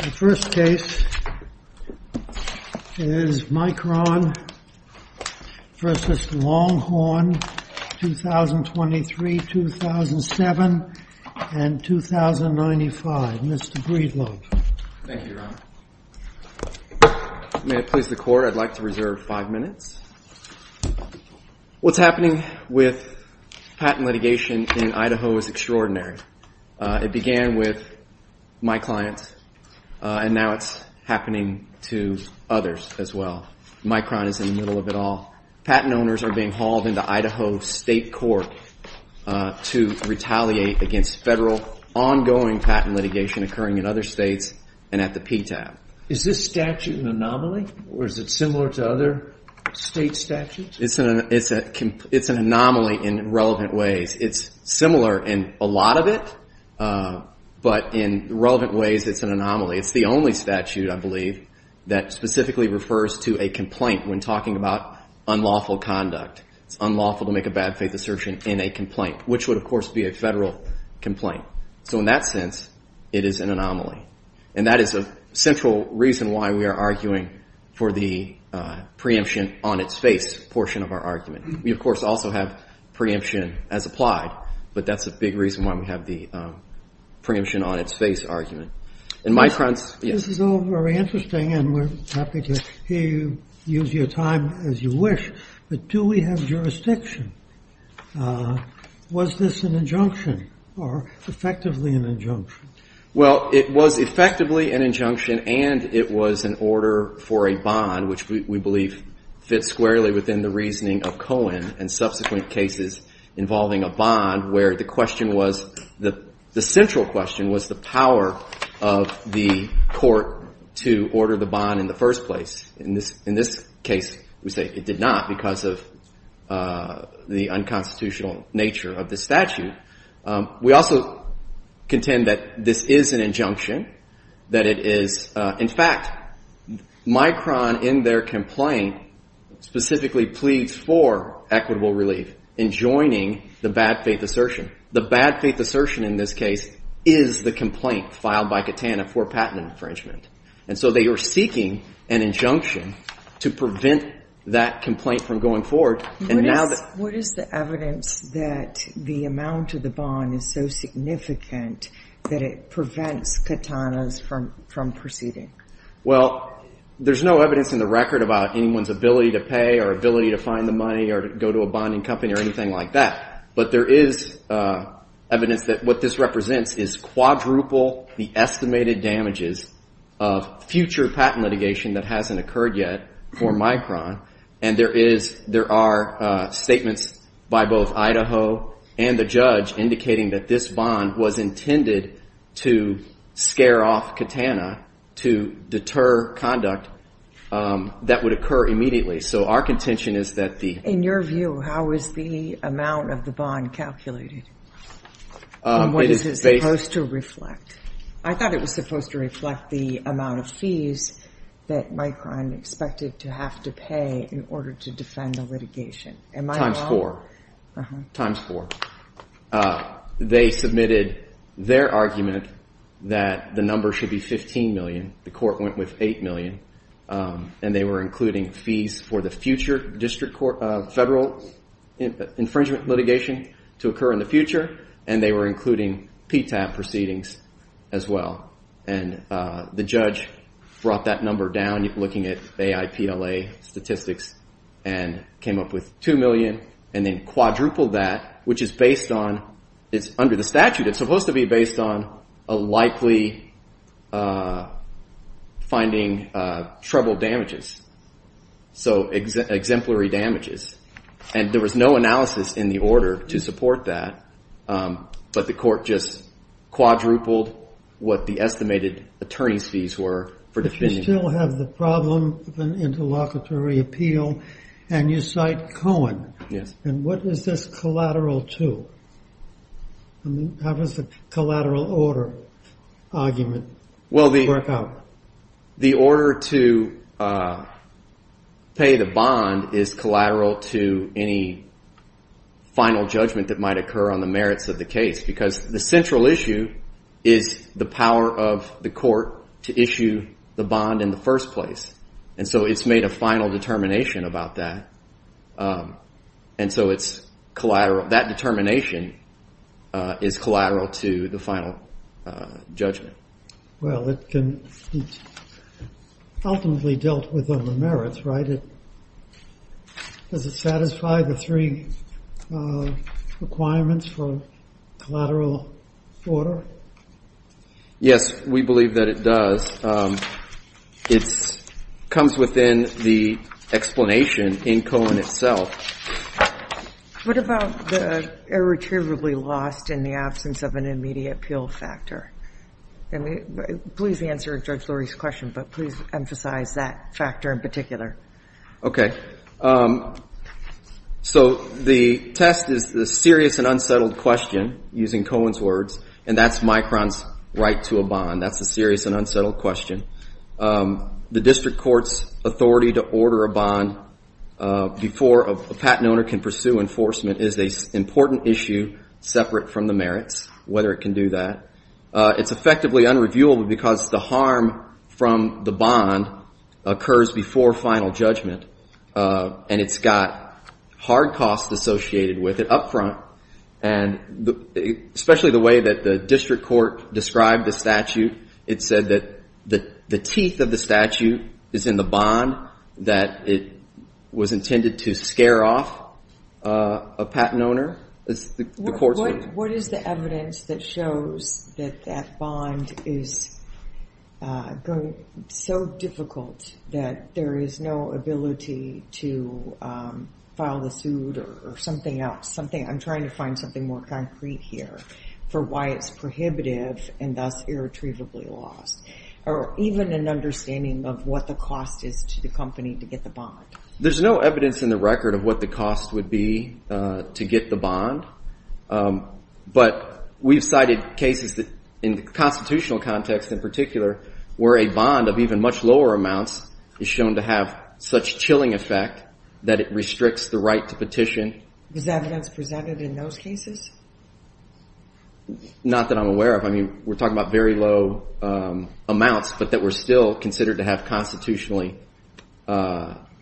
The first case is Micron v. Longhorn, 2023-2007 and 2095. Mr. Breedlove. Thank you, Your Honor. May it please the Court, I'd like to reserve five minutes. What's happening with patent litigation in Idaho is extraordinary. It began with my client and now it's happening to others as well. Micron is in the middle of it all. Patent owners are being hauled into Idaho State Court to retaliate against federal, ongoing patent litigation occurring in other states and at the PTAP. Is this statute an anomaly or is it similar to other state statutes? It's an anomaly in relevant ways. It's similar in a lot of it, but in relevant ways it's an anomaly. It's the only statute, I believe, that specifically refers to a complaint when talking about unlawful conduct. It's unlawful to make a bad faith assertion in a complaint, which would, of course, be a federal complaint. So in that sense, it is an anomaly. And that is a central reason why we are arguing for the preemption on its face portion of our argument. We, of course, also have preemption as applied, but that's a big reason why we have the preemption on its face argument. This is all very interesting and we're happy to hear you use your time as you wish, but do we have jurisdiction? Was this an injunction or effectively an injunction? Well, it was effectively an injunction and it was an order for a bond, which we believe fits squarely within the reasoning of Cohen and subsequent cases involving a bond, where the question was, the central question was the power of the court to order the bond in the first place. In this case, we say it did not because of the unconstitutional nature of the statute. We also contend that this is an injunction, that it is, in fact, Micron in their complaint specifically pleads for equitable relief in joining the bad faith assertion. The bad faith assertion in this case is the complaint filed by Katana for patent infringement. And so they are seeking an injunction to prevent that complaint from going forward. What is the evidence that the amount of the bond is so significant that it prevents Katana's from proceeding? Well, there's no evidence in the record about anyone's ability to pay or ability to find the money or go to a bonding company or anything like that. But there is evidence that what this represents is quadruple the estimated damages of future patent litigation that hasn't occurred yet for Micron. And there is there are statements by both Idaho and the judge indicating that this bond was intended to scare off Katana to deter conduct that would occur immediately. So our contention is that the in your view, how is the amount of the bond calculated? What is it supposed to reflect? I thought it was supposed to reflect the amount of fees that Micron expected to have to pay in order to defend the litigation. And my times four times four. They submitted their argument that the number should be 15 million. The court went with 8 million and they were including fees for the future district court federal infringement litigation to occur in the future. And they were including PTAP proceedings as well. And the judge brought that number down, looking at AIPLA statistics and came up with 2 million and then quadrupled that, which is based on it's under the statute. And it's supposed to be based on a likely finding trouble damages. So exemplary damages. And there was no analysis in the order to support that. But the court just quadrupled what the estimated attorney's fees were. You still have the problem of an interlocutory appeal and you cite Cohen. Yes. And what is this collateral to? How does the collateral order argument work out? The order to pay the bond is collateral to any final judgment that might occur on the merits of the case. Because the central issue is the power of the court to issue the bond in the first place. And so it's made a final determination about that. And so it's collateral. That determination is collateral to the final judgment. Well, it ultimately dealt with on the merits, right? Does it satisfy the three requirements for collateral order? Yes, we believe that it does. It comes within the explanation in Cohen itself. What about the irretrievably lost in the absence of an immediate appeal factor? And please answer Judge Lurie's question, but please emphasize that factor in particular. Okay. So the test is the serious and unsettled question, using Cohen's words, and that's Micron's right to a bond. That's the serious and unsettled question. The district court's authority to order a bond before a patent owner can pursue enforcement is an important issue, separate from the merits, whether it can do that. It's effectively unreviewable because the harm from the bond occurs before final judgment, and it's got hard costs associated with it up front. Especially the way that the district court described the statute, it said that the teeth of the statute is in the bond, that it was intended to scare off a patent owner. What is the evidence that shows that that bond is so difficult that there is no ability to file the suit or something else, I'm trying to find something more concrete here, for why it's prohibitive and thus irretrievably lost, or even an understanding of what the cost is to the company to get the bond? There's no evidence in the record of what the cost would be to get the bond, but we've cited cases in the constitutional context in particular where a bond of even much lower amounts is shown to have such chilling effect that it restricts the right to petition. Was evidence presented in those cases? Not that I'm aware of. I mean, we're talking about very low amounts, but that were still considered to have constitutionally...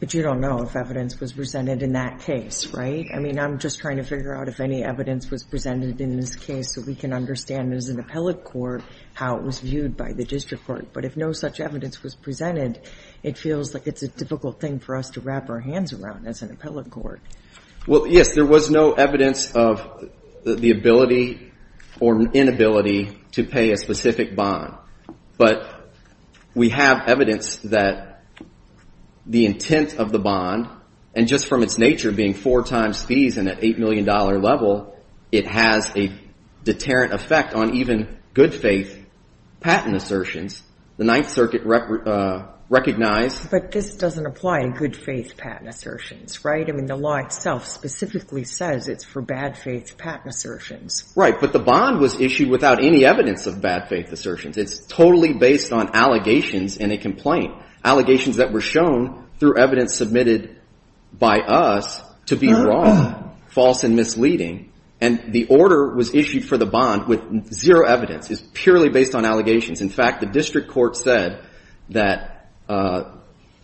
But you don't know if evidence was presented in that case, right? I mean, I'm just trying to figure out if any evidence was presented in this case so we can understand as an appellate court how it was viewed by the district court. But if no such evidence was presented, it feels like it's a difficult thing for us to wrap our hands around as an appellate court. Well, yes, there was no evidence of the ability or inability to pay a specific bond. But we have evidence that the intent of the bond, and just from its nature being four times fees and at $8 million level, it has a deterrent effect on even good faith patent assertions. The Ninth Circuit recognized... But this doesn't apply in good faith patent assertions, right? I mean, the law itself specifically says it's for bad faith patent assertions. Right. But the bond was issued without any evidence of bad faith assertions. It's totally based on allegations in a complaint, allegations that were shown through evidence submitted by us to be wrong, false and misleading. And the order was issued for the bond with zero evidence. It's purely based on allegations. In fact, the district court said that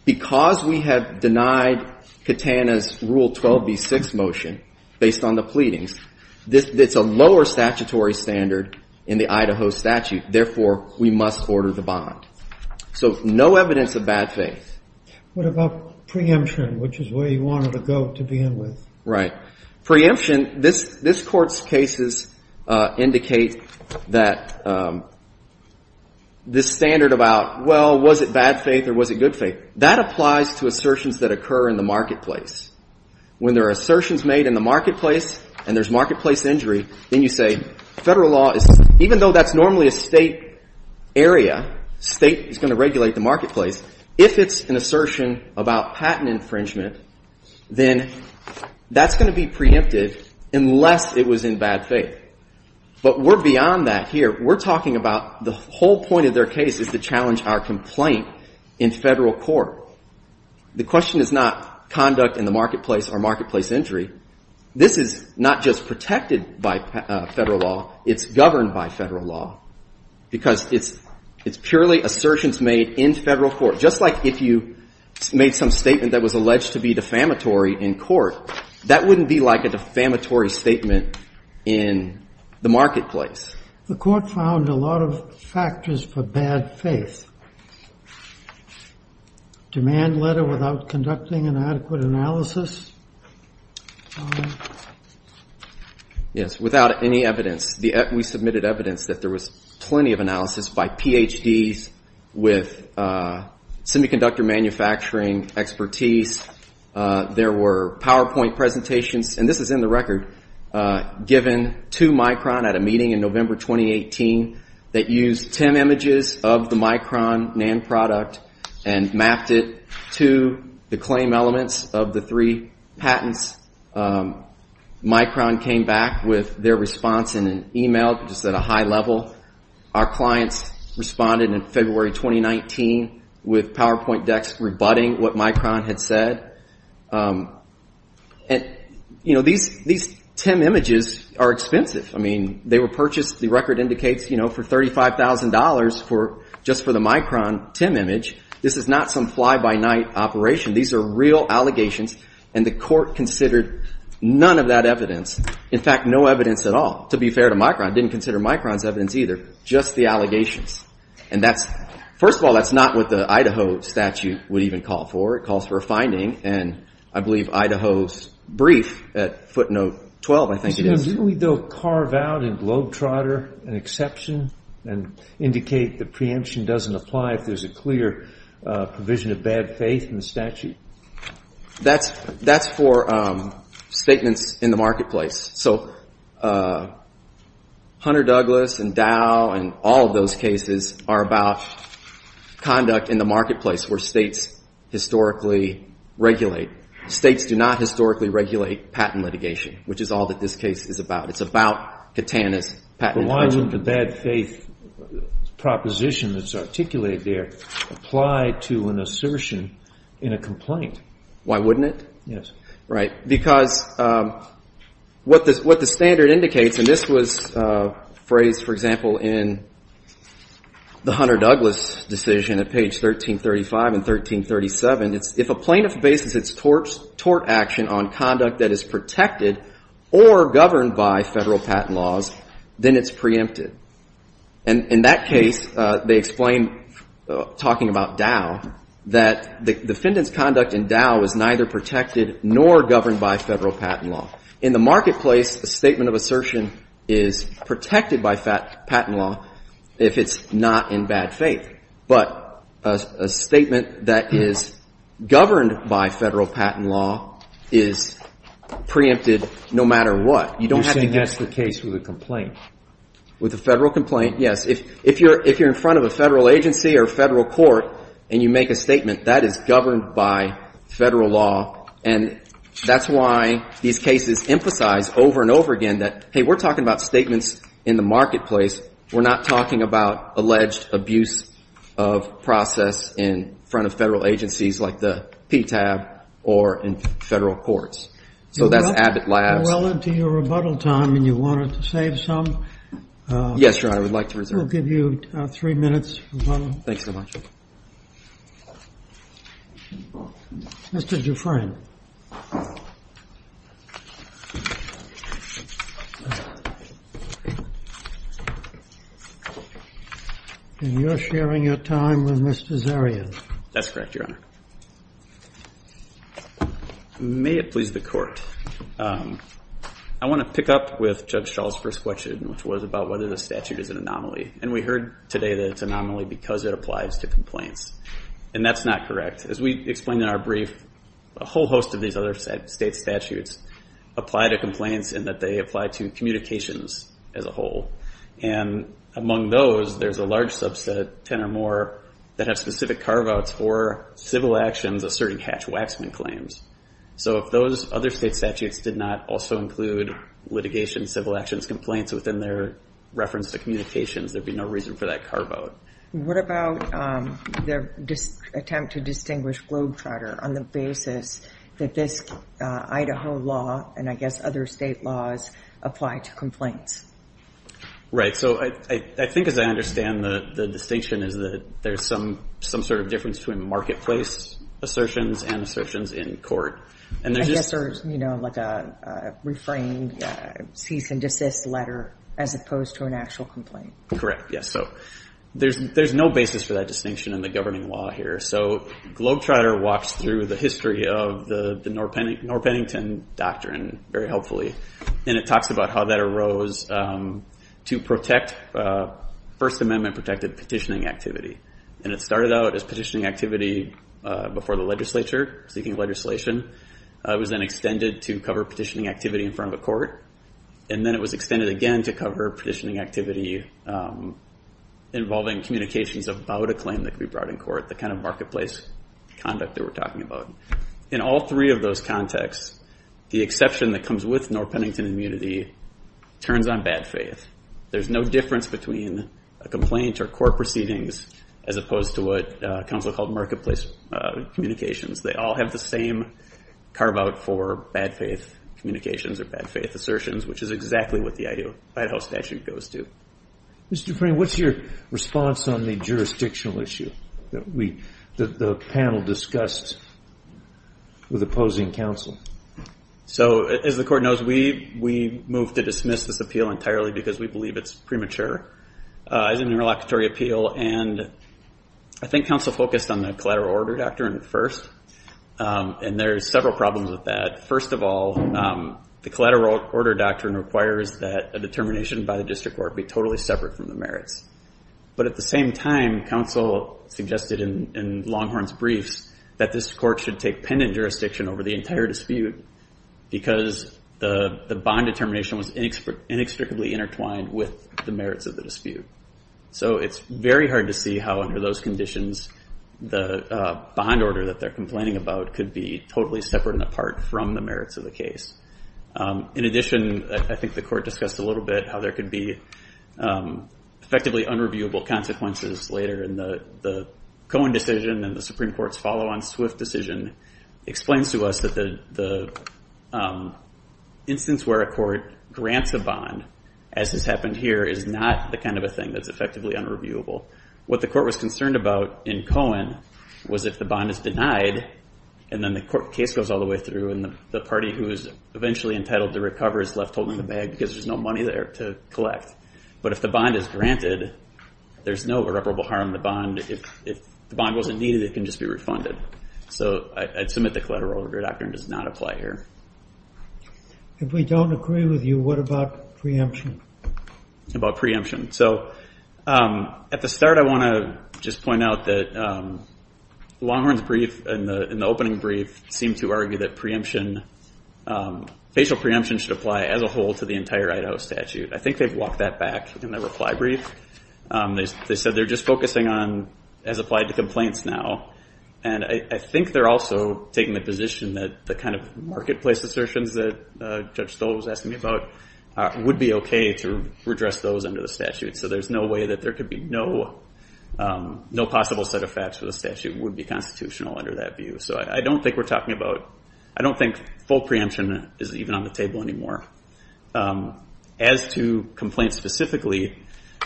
because we have denied Katana's Rule 12b-6 motion based on the pleadings, it's a lower statutory standard in the Idaho statute. Therefore, we must order the bond. So no evidence of bad faith. What about preemption, which is where you wanted to go to begin with? Right. Preemption, this Court's cases indicate that this standard about, well, was it bad faith or was it good faith, that applies to assertions that occur in the marketplace. When there are assertions made in the marketplace and there's marketplace injury, then you say federal law is... Even though that's normally a state area, state is going to regulate the marketplace. If it's an assertion about patent infringement, then that's going to be preempted unless it was in bad faith. But we're beyond that here. We're talking about the whole point of their case is to challenge our complaint in federal court. The question is not conduct in the marketplace or marketplace injury. This is not just protected by federal law. It's governed by federal law. Because it's purely assertions made in federal court. Just like if you made some statement that was alleged to be defamatory in court, that wouldn't be like a defamatory statement in the marketplace. The Court found a lot of factors for bad faith. Demand letter without conducting an adequate analysis. Yes, without any evidence. We submitted evidence that there was plenty of analysis by PhDs with semiconductor manufacturing expertise. There were PowerPoint presentations, and this is in the record, given to Micron at a meeting in November 2018 that used 10 images of the Micron NAND product and mapped it to the claim elements of the three patents. Micron came back with their response in an email just at a high level. Our clients responded in February 2019 with PowerPoint decks rebutting what Micron had said. These 10 images are expensive. They were purchased, the record indicates, for $35,000 just for the Micron TEM image. This is not some fly-by-night operation. These are real allegations, and the Court considered none of that evidence. In fact, no evidence at all, to be fair to Micron. It didn't consider Micron's evidence either, just the allegations. First of all, that's not what the Idaho statute would even call for. It calls for a finding, and I believe Idaho's brief at footnote 12, I think it is. Didn't we, though, carve out in Globetrotter an exception and indicate the preemption doesn't apply if there's a clear provision of bad faith in the statute? That's for statements in the marketplace. Hunter Douglas and Dow and all of those cases are about conduct in the marketplace where states historically regulate. States do not historically regulate patent litigation, which is all that this case is about. It's about Katana's patent infringement. But why wouldn't the bad faith proposition that's articulated there apply to an assertion in a complaint? Why wouldn't it? Yes. Right, because what the standard indicates, and this was phrased, for example, in the Hunter Douglas decision at page 1335 and 1337, it's if a plaintiff bases its tort action on conduct that is protected or governed by Federal patent laws, then it's preempted. And in that case, they explain, talking about Dow, that the defendant's conduct in Dow is neither protected nor governed by Federal patent law. In the marketplace, a statement of assertion is protected by patent law if it's not in bad faith. But a statement that is governed by Federal patent law is preempted no matter what. You're saying that's the case with a complaint? With a Federal complaint, yes. If you're in front of a Federal agency or a Federal court and you make a statement, that is governed by Federal law. And that's why these cases emphasize over and over again that, hey, we're talking about statements in the marketplace. We're not talking about alleged abuse of process in front of Federal agencies like the PTAB or in Federal courts. So that's Abbott Labs. We're well into your rebuttal time, and you wanted to save some. Yes, Your Honor. I would like to reserve it. We'll give you three minutes for rebuttal. Thanks so much. Mr. Dufresne, you're sharing your time with Mr. Zarian. That's correct, Your Honor. May it please the Court. I want to pick up with Judge Schall's first question, which was about whether the statute is an anomaly. And we heard today that it's an anomaly because it applies to complaints. And that's not correct. As we explained in our brief, a whole host of these other state statutes apply to complaints in that they apply to communications as a whole. And among those, there's a large subset, 10 or more, that have specific carve-outs for civil actions asserting hatch-waxman claims. So if those other state statutes did not also include litigation, civil actions, and various complaints within their reference to communications, there'd be no reason for that carve-out. What about the attempt to distinguish Globetrotter on the basis that this Idaho law and, I guess, other state laws apply to complaints? Right. So I think, as I understand, the distinction is that there's some sort of difference between marketplace assertions and assertions in court. I guess there's, you know, like a refrain, cease and desist letter, as opposed to an actual complaint. Correct, yes. So there's no basis for that distinction in the governing law here. So Globetrotter walks through the history of the Norr-Pennington Doctrine very helpfully, and it talks about how that arose to protect First Amendment-protected petitioning activity. And it started out as petitioning activity before the legislature, seeking legislation. It was then extended to cover petitioning activity in front of a court, and then it was extended again to cover petitioning activity involving communications about a claim that could be brought in court, the kind of marketplace conduct that we're talking about. In all three of those contexts, the exception that comes with Norr-Pennington immunity turns on bad faith. There's no difference between a complaint or court proceedings, as opposed to what counsel called marketplace communications. They all have the same carve-out for bad faith communications or bad faith assertions, which is exactly what the Idaho statute goes to. Mr. Dufresne, what's your response on the jurisdictional issue that the panel discussed with opposing counsel? So as the court knows, we moved to dismiss this appeal entirely because we believe it's premature. It's an interlocutory appeal, and I think counsel focused on the Collateral Order Doctrine first, and there are several problems with that. First of all, the Collateral Order Doctrine requires that a determination by the district court be totally separate from the merits. But at the same time, counsel suggested in Longhorn's briefs that this court should take pendant jurisdiction over the entire dispute because the bond determination was inextricably intertwined with the merits of the dispute. So it's very hard to see how under those conditions the bond order that they're complaining about could be totally separate and apart from the merits of the case. In addition, I think the court discussed a little bit how there could be effectively unreviewable consequences later and the Cohen decision and the Supreme Court's follow-on swift decision explains to us that the instance where a court grants a bond, as has happened here, is not the kind of a thing that's effectively unreviewable. What the court was concerned about in Cohen was if the bond is denied and then the case goes all the way through and the party who is eventually entitled to recover is left holding the bag because there's no money there to collect. But if the bond is granted, there's no irreparable harm to the bond. If the bond wasn't needed, it can just be refunded. So I'd submit the collateral order doctrine does not apply here. If we don't agree with you, what about preemption? About preemption. So at the start, I want to just point out that Longhorn's brief in the opening brief seemed to argue that facial preemption should apply as a whole to the entire Idaho statute. I think they've walked that back in their reply brief. They said they're just focusing on as applied to complaints now. And I think they're also taking the position that the kind of marketplace assertions that Judge Stoll was asking me about would be okay to redress those under the statute. So there's no way that there could be no possible set of facts for the statute would be constitutional under that view. So I don't think we're talking about, I don't think full preemption is even on the table anymore. As to complaints specifically,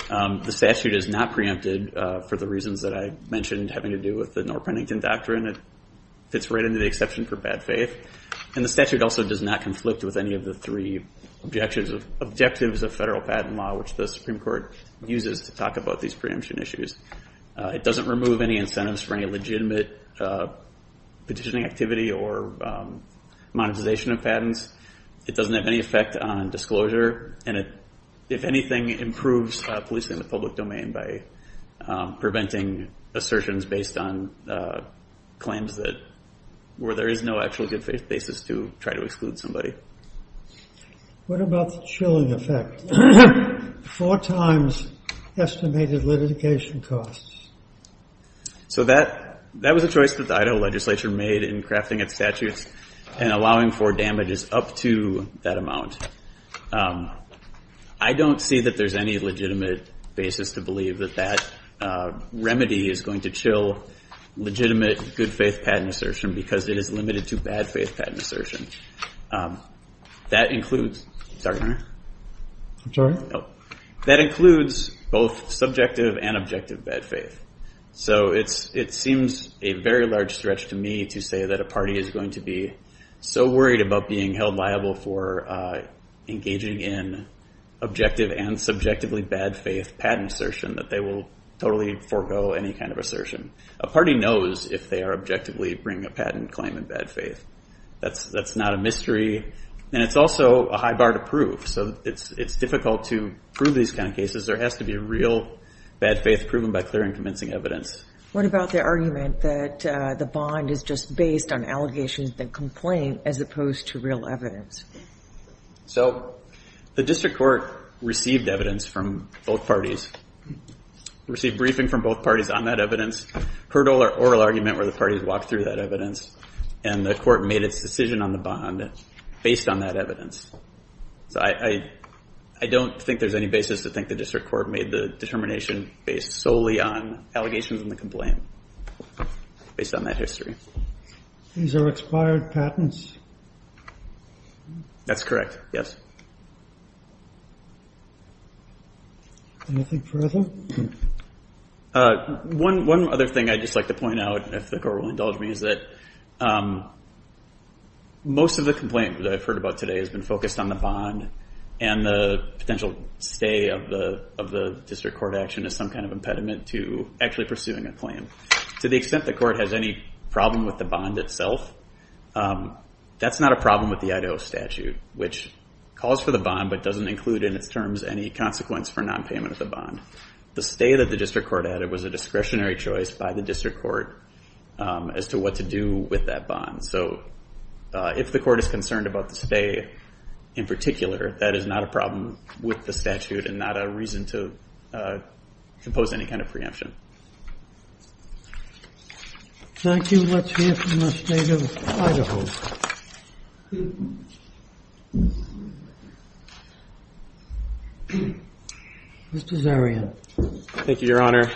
the statute is not preempted for the reasons that I mentioned having to do with the Knorr-Pennington doctrine. It fits right into the exception for bad faith. And the statute also does not conflict with any of the three objectives of federal patent law, which the Supreme Court uses to talk about these preemption issues. It doesn't remove any incentives for any legitimate petitioning activity or monetization of patents. It doesn't have any effect on disclosure. And it, if anything, improves policing in the public domain by preventing assertions based on claims that, where there is no actual good faith basis to try to exclude somebody. What about the chilling effect? Four times estimated litigation costs. So that was a choice that the Idaho legislature made in crafting its statutes and allowing for damages up to that amount. I don't see that there's any legitimate basis to believe that that remedy is going to chill legitimate good faith patent assertion because it is limited to bad faith patent assertion. That includes both subjective and objective bad faith. So it seems a very large stretch to me to say that a party is going to be so worried about being held liable for engaging in objective and subjectively bad faith patent assertion that they will totally forego any kind of assertion. A party knows if they are objectively bringing a patent claim in bad faith. That's not a mystery. And it's also a high bar to prove. So it's difficult to prove these kind of cases. There has to be real bad faith proven by clear and convincing evidence. What about the argument that the bond is just based on allegations that complain as opposed to real evidence? So the district court received evidence from both parties, received briefing from both parties on that evidence, heard oral argument where the parties walked through that evidence, and the court made its decision on the bond based on that evidence. So I don't think there's any basis to think the district court made the determination based solely on allegations in the complaint based on that history. These are expired patents? That's correct, yes. Anything further? One other thing I'd just like to point out, if the court will indulge me, is that most of the complaint that I've heard about today has been focused on the bond and the potential stay of the district court action as some kind of impediment to actually pursuing a claim. To the extent the court has any problem with the bond itself, that's not a problem with the Idaho statute, which calls for the bond but doesn't include in its terms any consequence for nonpayment of the bond. The stay that the district court added was a discretionary choice by the district court as to what to do with that bond. So if the court is concerned about the stay in particular, that is not a problem with the statute and not a reason to impose any kind of preemption. Thank you. Let's hear from the State of Idaho. Mr. Zarian. Thank you, Your Honor.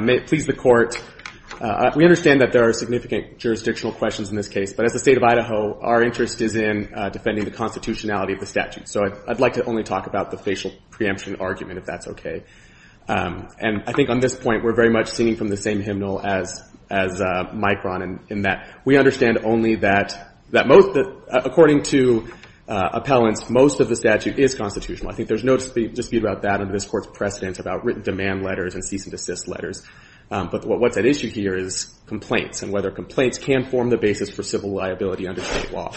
May it please the Court, we understand that there are significant jurisdictional questions in this case, but as the State of Idaho, our interest is in defending the constitutionality of the statute. So I'd like to only talk about the facial preemption argument, if that's okay. And I think on this point, we're very much singing from the same hymnal as Micron, in that we understand only that according to appellants, most of the statute is constitutional. I think there's no dispute about that under this Court's precedent about written demand letters and cease and desist letters. But what's at issue here is complaints and whether complaints can form the basis for civil liability under state law.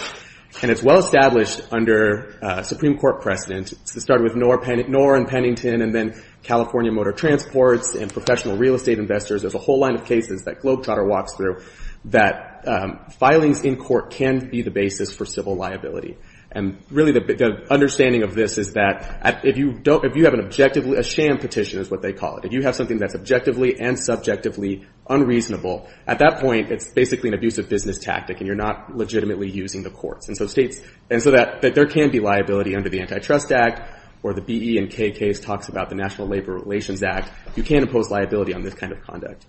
And it's well established under Supreme Court precedent, it started with Knorr and Pennington and then California Motor Transports and professional real estate investors, there's a whole line of cases that Globetrotter walks through, that filings in court can be the basis for civil liability. And really, the understanding of this is that if you have an objective, a sham petition is what they call it, if you have something that's objectively and subjectively unreasonable, at that point, it's basically an abusive business tactic and you're not legitimately using the courts. And so there can be liability under the Antitrust Act or the B.E. and K. case talks about the National Labor Relations Act. You can't impose liability on this kind of conduct.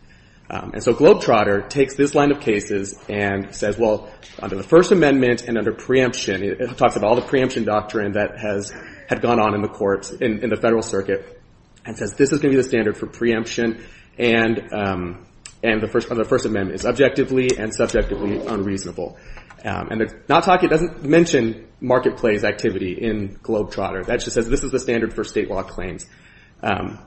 And so Globetrotter takes this line of cases and says, well, under the First Amendment and under preemption, it talks about all the preemption doctrine that had gone on in the courts, in the Federal Circuit, and says this is going to be the standard for preemption and the First Amendment is objectively and subjectively unreasonable. And it doesn't mention marketplace activity in Globetrotter, that just says this is the standard for state law claims.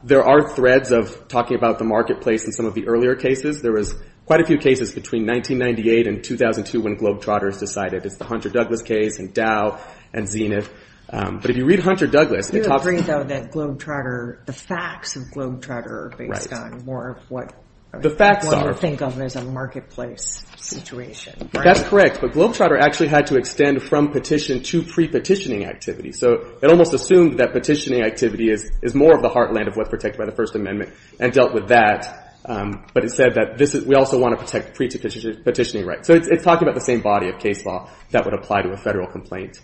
There are threads of talking about the marketplace in some of the earlier cases. There was quite a few cases between 1998 and 2002 when Globetrotter decided. It's the Hunter-Douglas case and Dow and Zenith. But if you read Hunter-Douglas... You agree, though, that Globetrotter, the facts of Globetrotter are based on more of what you think of as a marketplace situation, right? That's correct, but Globetrotter actually had to extend from petition to pre-petitioning activity. So it almost assumed that petitioning activity is more of the heartland of what's protected by the First Amendment and dealt with that. But it said that we also want to protect pre-petitioning rights. So it's talking about the same body of case law that would apply to a federal complaint.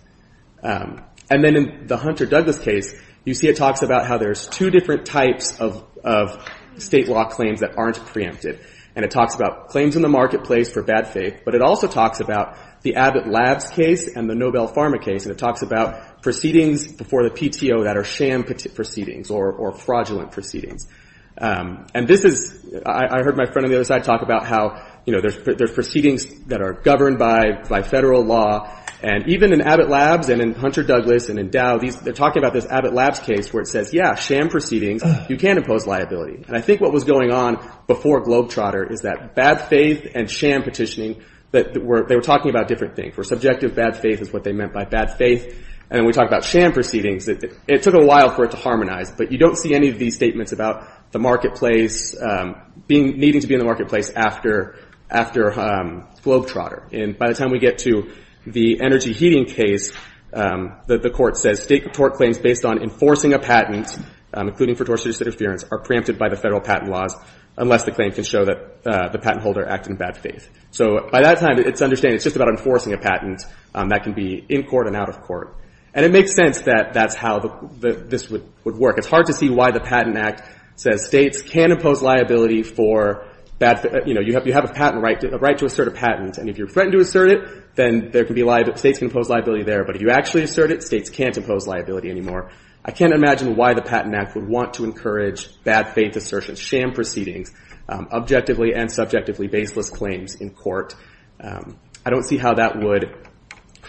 And then in the Hunter-Douglas case, you see it talks about how there's two different types of state law claims that aren't preempted. And it talks about claims in the marketplace for bad faith, but it also talks about the Abbott Labs case and the Nobel Pharma case, and it talks about proceedings before the PTO that are sham proceedings or fraudulent proceedings. And this is... I heard my friend on the other side talk about how there's proceedings that are governed by federal law. And even in Abbott Labs and in Hunter-Douglas and in Dow, they're talking about this Abbott Labs case where it says, yeah, sham proceedings, you can impose liability. And I think what was going on before Globetrotter is that bad faith and sham petitioning, they were talking about different things. Where subjective bad faith is what they meant by bad faith. And then we talk about sham proceedings. It took a while for it to harmonize, but you don't see any of these statements about the marketplace... needing to be in the marketplace after Globetrotter. And by the time we get to the energy heating case, the court says state court claims based on enforcing a patent, including for tortious interference, are preempted by the federal patent laws unless the claim can show that the patent holder acted in bad faith. So by that time, it's understandable. It's just about enforcing a patent that can be in court and out of court. And it makes sense that that's how this would work. It's hard to see why the Patent Act says states can't impose liability for bad faith. You have a patent right to assert a patent, and if you threaten to assert it, then states can impose liability there. But if you actually assert it, states can't impose liability anymore. I can't imagine why the Patent Act would want to encourage bad faith assertions, sham proceedings, objectively and subjectively baseless claims in court. I don't see how that would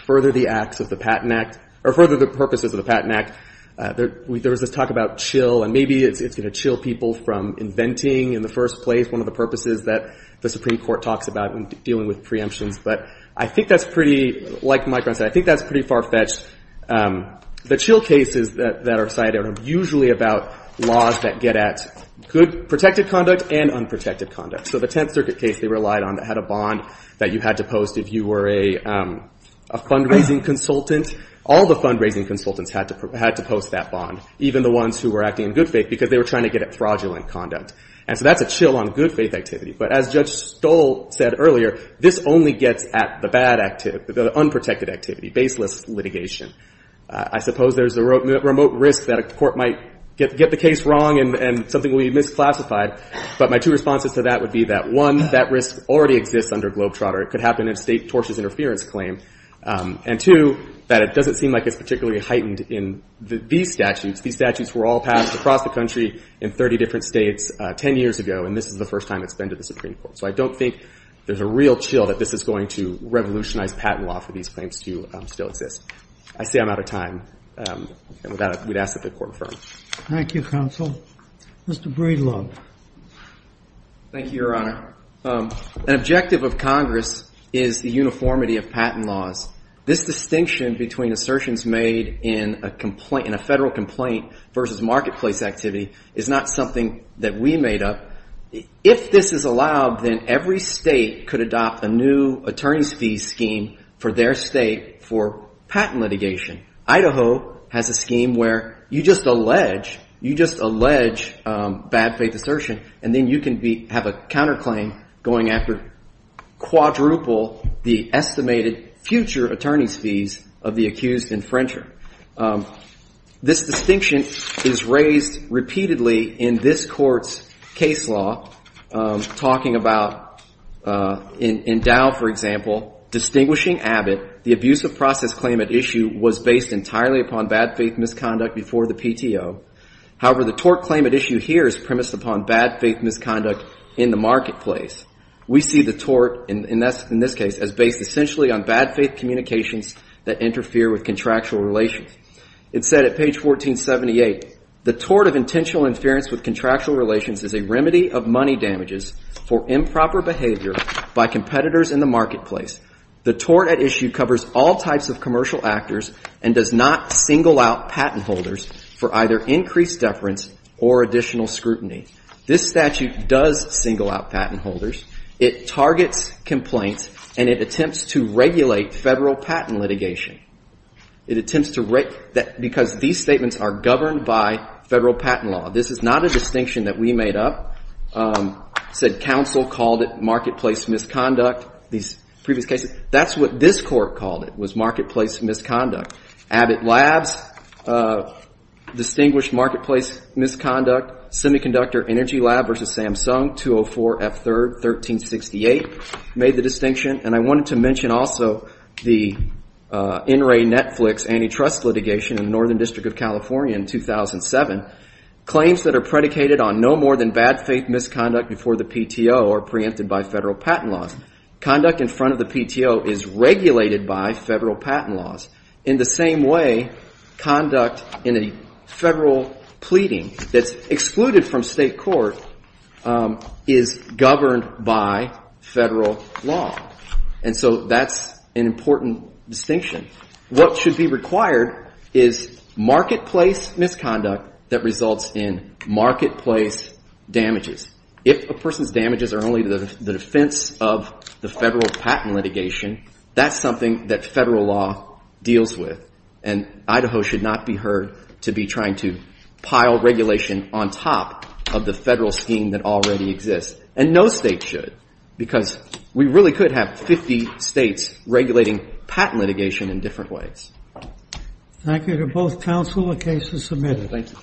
further the acts of the Patent Act, or further the purposes of the Patent Act. There was this talk about chill, and maybe it's going to chill people from inventing in the first place, one of the purposes that the Supreme Court talks about in dealing with preemptions. But I think that's pretty, like Mike runs out, I think that's pretty far-fetched. The chill cases that are cited are usually about laws that get at good protected conduct and unprotected conduct. So the Tenth Circuit case they relied on that had a bond that you had to post if you were a fundraising consultant. All the fundraising consultants had to post that bond, even the ones who were acting in good faith, because they were trying to get at fraudulent conduct. And so that's a chill on good faith activity. But as Judge Stoll said earlier, this only gets at the bad activity, the unprotected activity, baseless litigation. I suppose there's a remote risk that a court might get the case wrong and something will be misclassified. But my two responses to that would be that, one, that risk already exists under Globetrotter. It could happen in a state tortious interference claim. And, two, that it doesn't seem like it's particularly heightened in these statutes. These statutes were all passed across the country in 30 different states 10 years ago, and this is the first time it's been to the Supreme Court. So I don't think there's a real chill that this is going to revolutionize patent law for these claims to still exist. I say I'm out of time. Without it, we'd ask that the Court refer. Thank you, counsel. Mr. Breedlove. Thank you, Your Honor. An objective of Congress is the uniformity of patent laws. This distinction between assertions made in a federal complaint versus marketplace activity is not something that we made up. If this is allowed, then every state could adopt a new attorney's fee scheme for their state for patent litigation. Idaho has a scheme where you just allege, you just allege bad faith assertion, and then you can have a counterclaim going after quadruple the estimated future attorney's fees of the accused infringer. This distinction is raised repeatedly in this Court's case law, talking about, in Dow, for example, distinguishing Abbott, the abuse of process claim at issue was based entirely upon bad faith misconduct before the PTO. However, the tort claim at issue here is premised upon bad faith misconduct in the marketplace. We see the tort, in this case, as based essentially on bad faith communications that interfere with contractual relations. It said at page 1478, the tort of intentional interference with contractual relations is a remedy of money damages for improper behavior by competitors in the marketplace. The tort at issue covers all types of commercial actors and does not single out patent holders for either increased deference or additional scrutiny. This statute does single out patent holders. It targets complaints and it attempts to regulate federal patent litigation. It attempts to regulate because these statements are governed by federal patent law. This is not a distinction that we made up. It said counsel called it marketplace misconduct. These previous cases, that's what this Court called it, was marketplace misconduct. Abbott Labs distinguished marketplace misconduct, Semiconductor Energy Lab v. Samsung, 204 F. 3rd, 1368, made the distinction. And I wanted to mention also the NRA Netflix antitrust litigation in the Northern District of California in 2007. Claims that are predicated on no more than bad faith misconduct before the PTO are preempted by federal patent laws. Conduct in front of the PTO is regulated by federal patent laws. In the same way, conduct in a federal pleading that's excluded from state court is governed by federal law. And so that's an important distinction. What should be required is marketplace misconduct that results in marketplace damages. If a person's damages are only the defense of the federal patent litigation, that's something that federal law deals with. And Idaho should not be heard to be trying to pile regulation on top of the federal scheme that already exists. And no state should. Because we really could have 50 states regulating patent litigation in different ways. Thank you to both counsel. The case is submitted.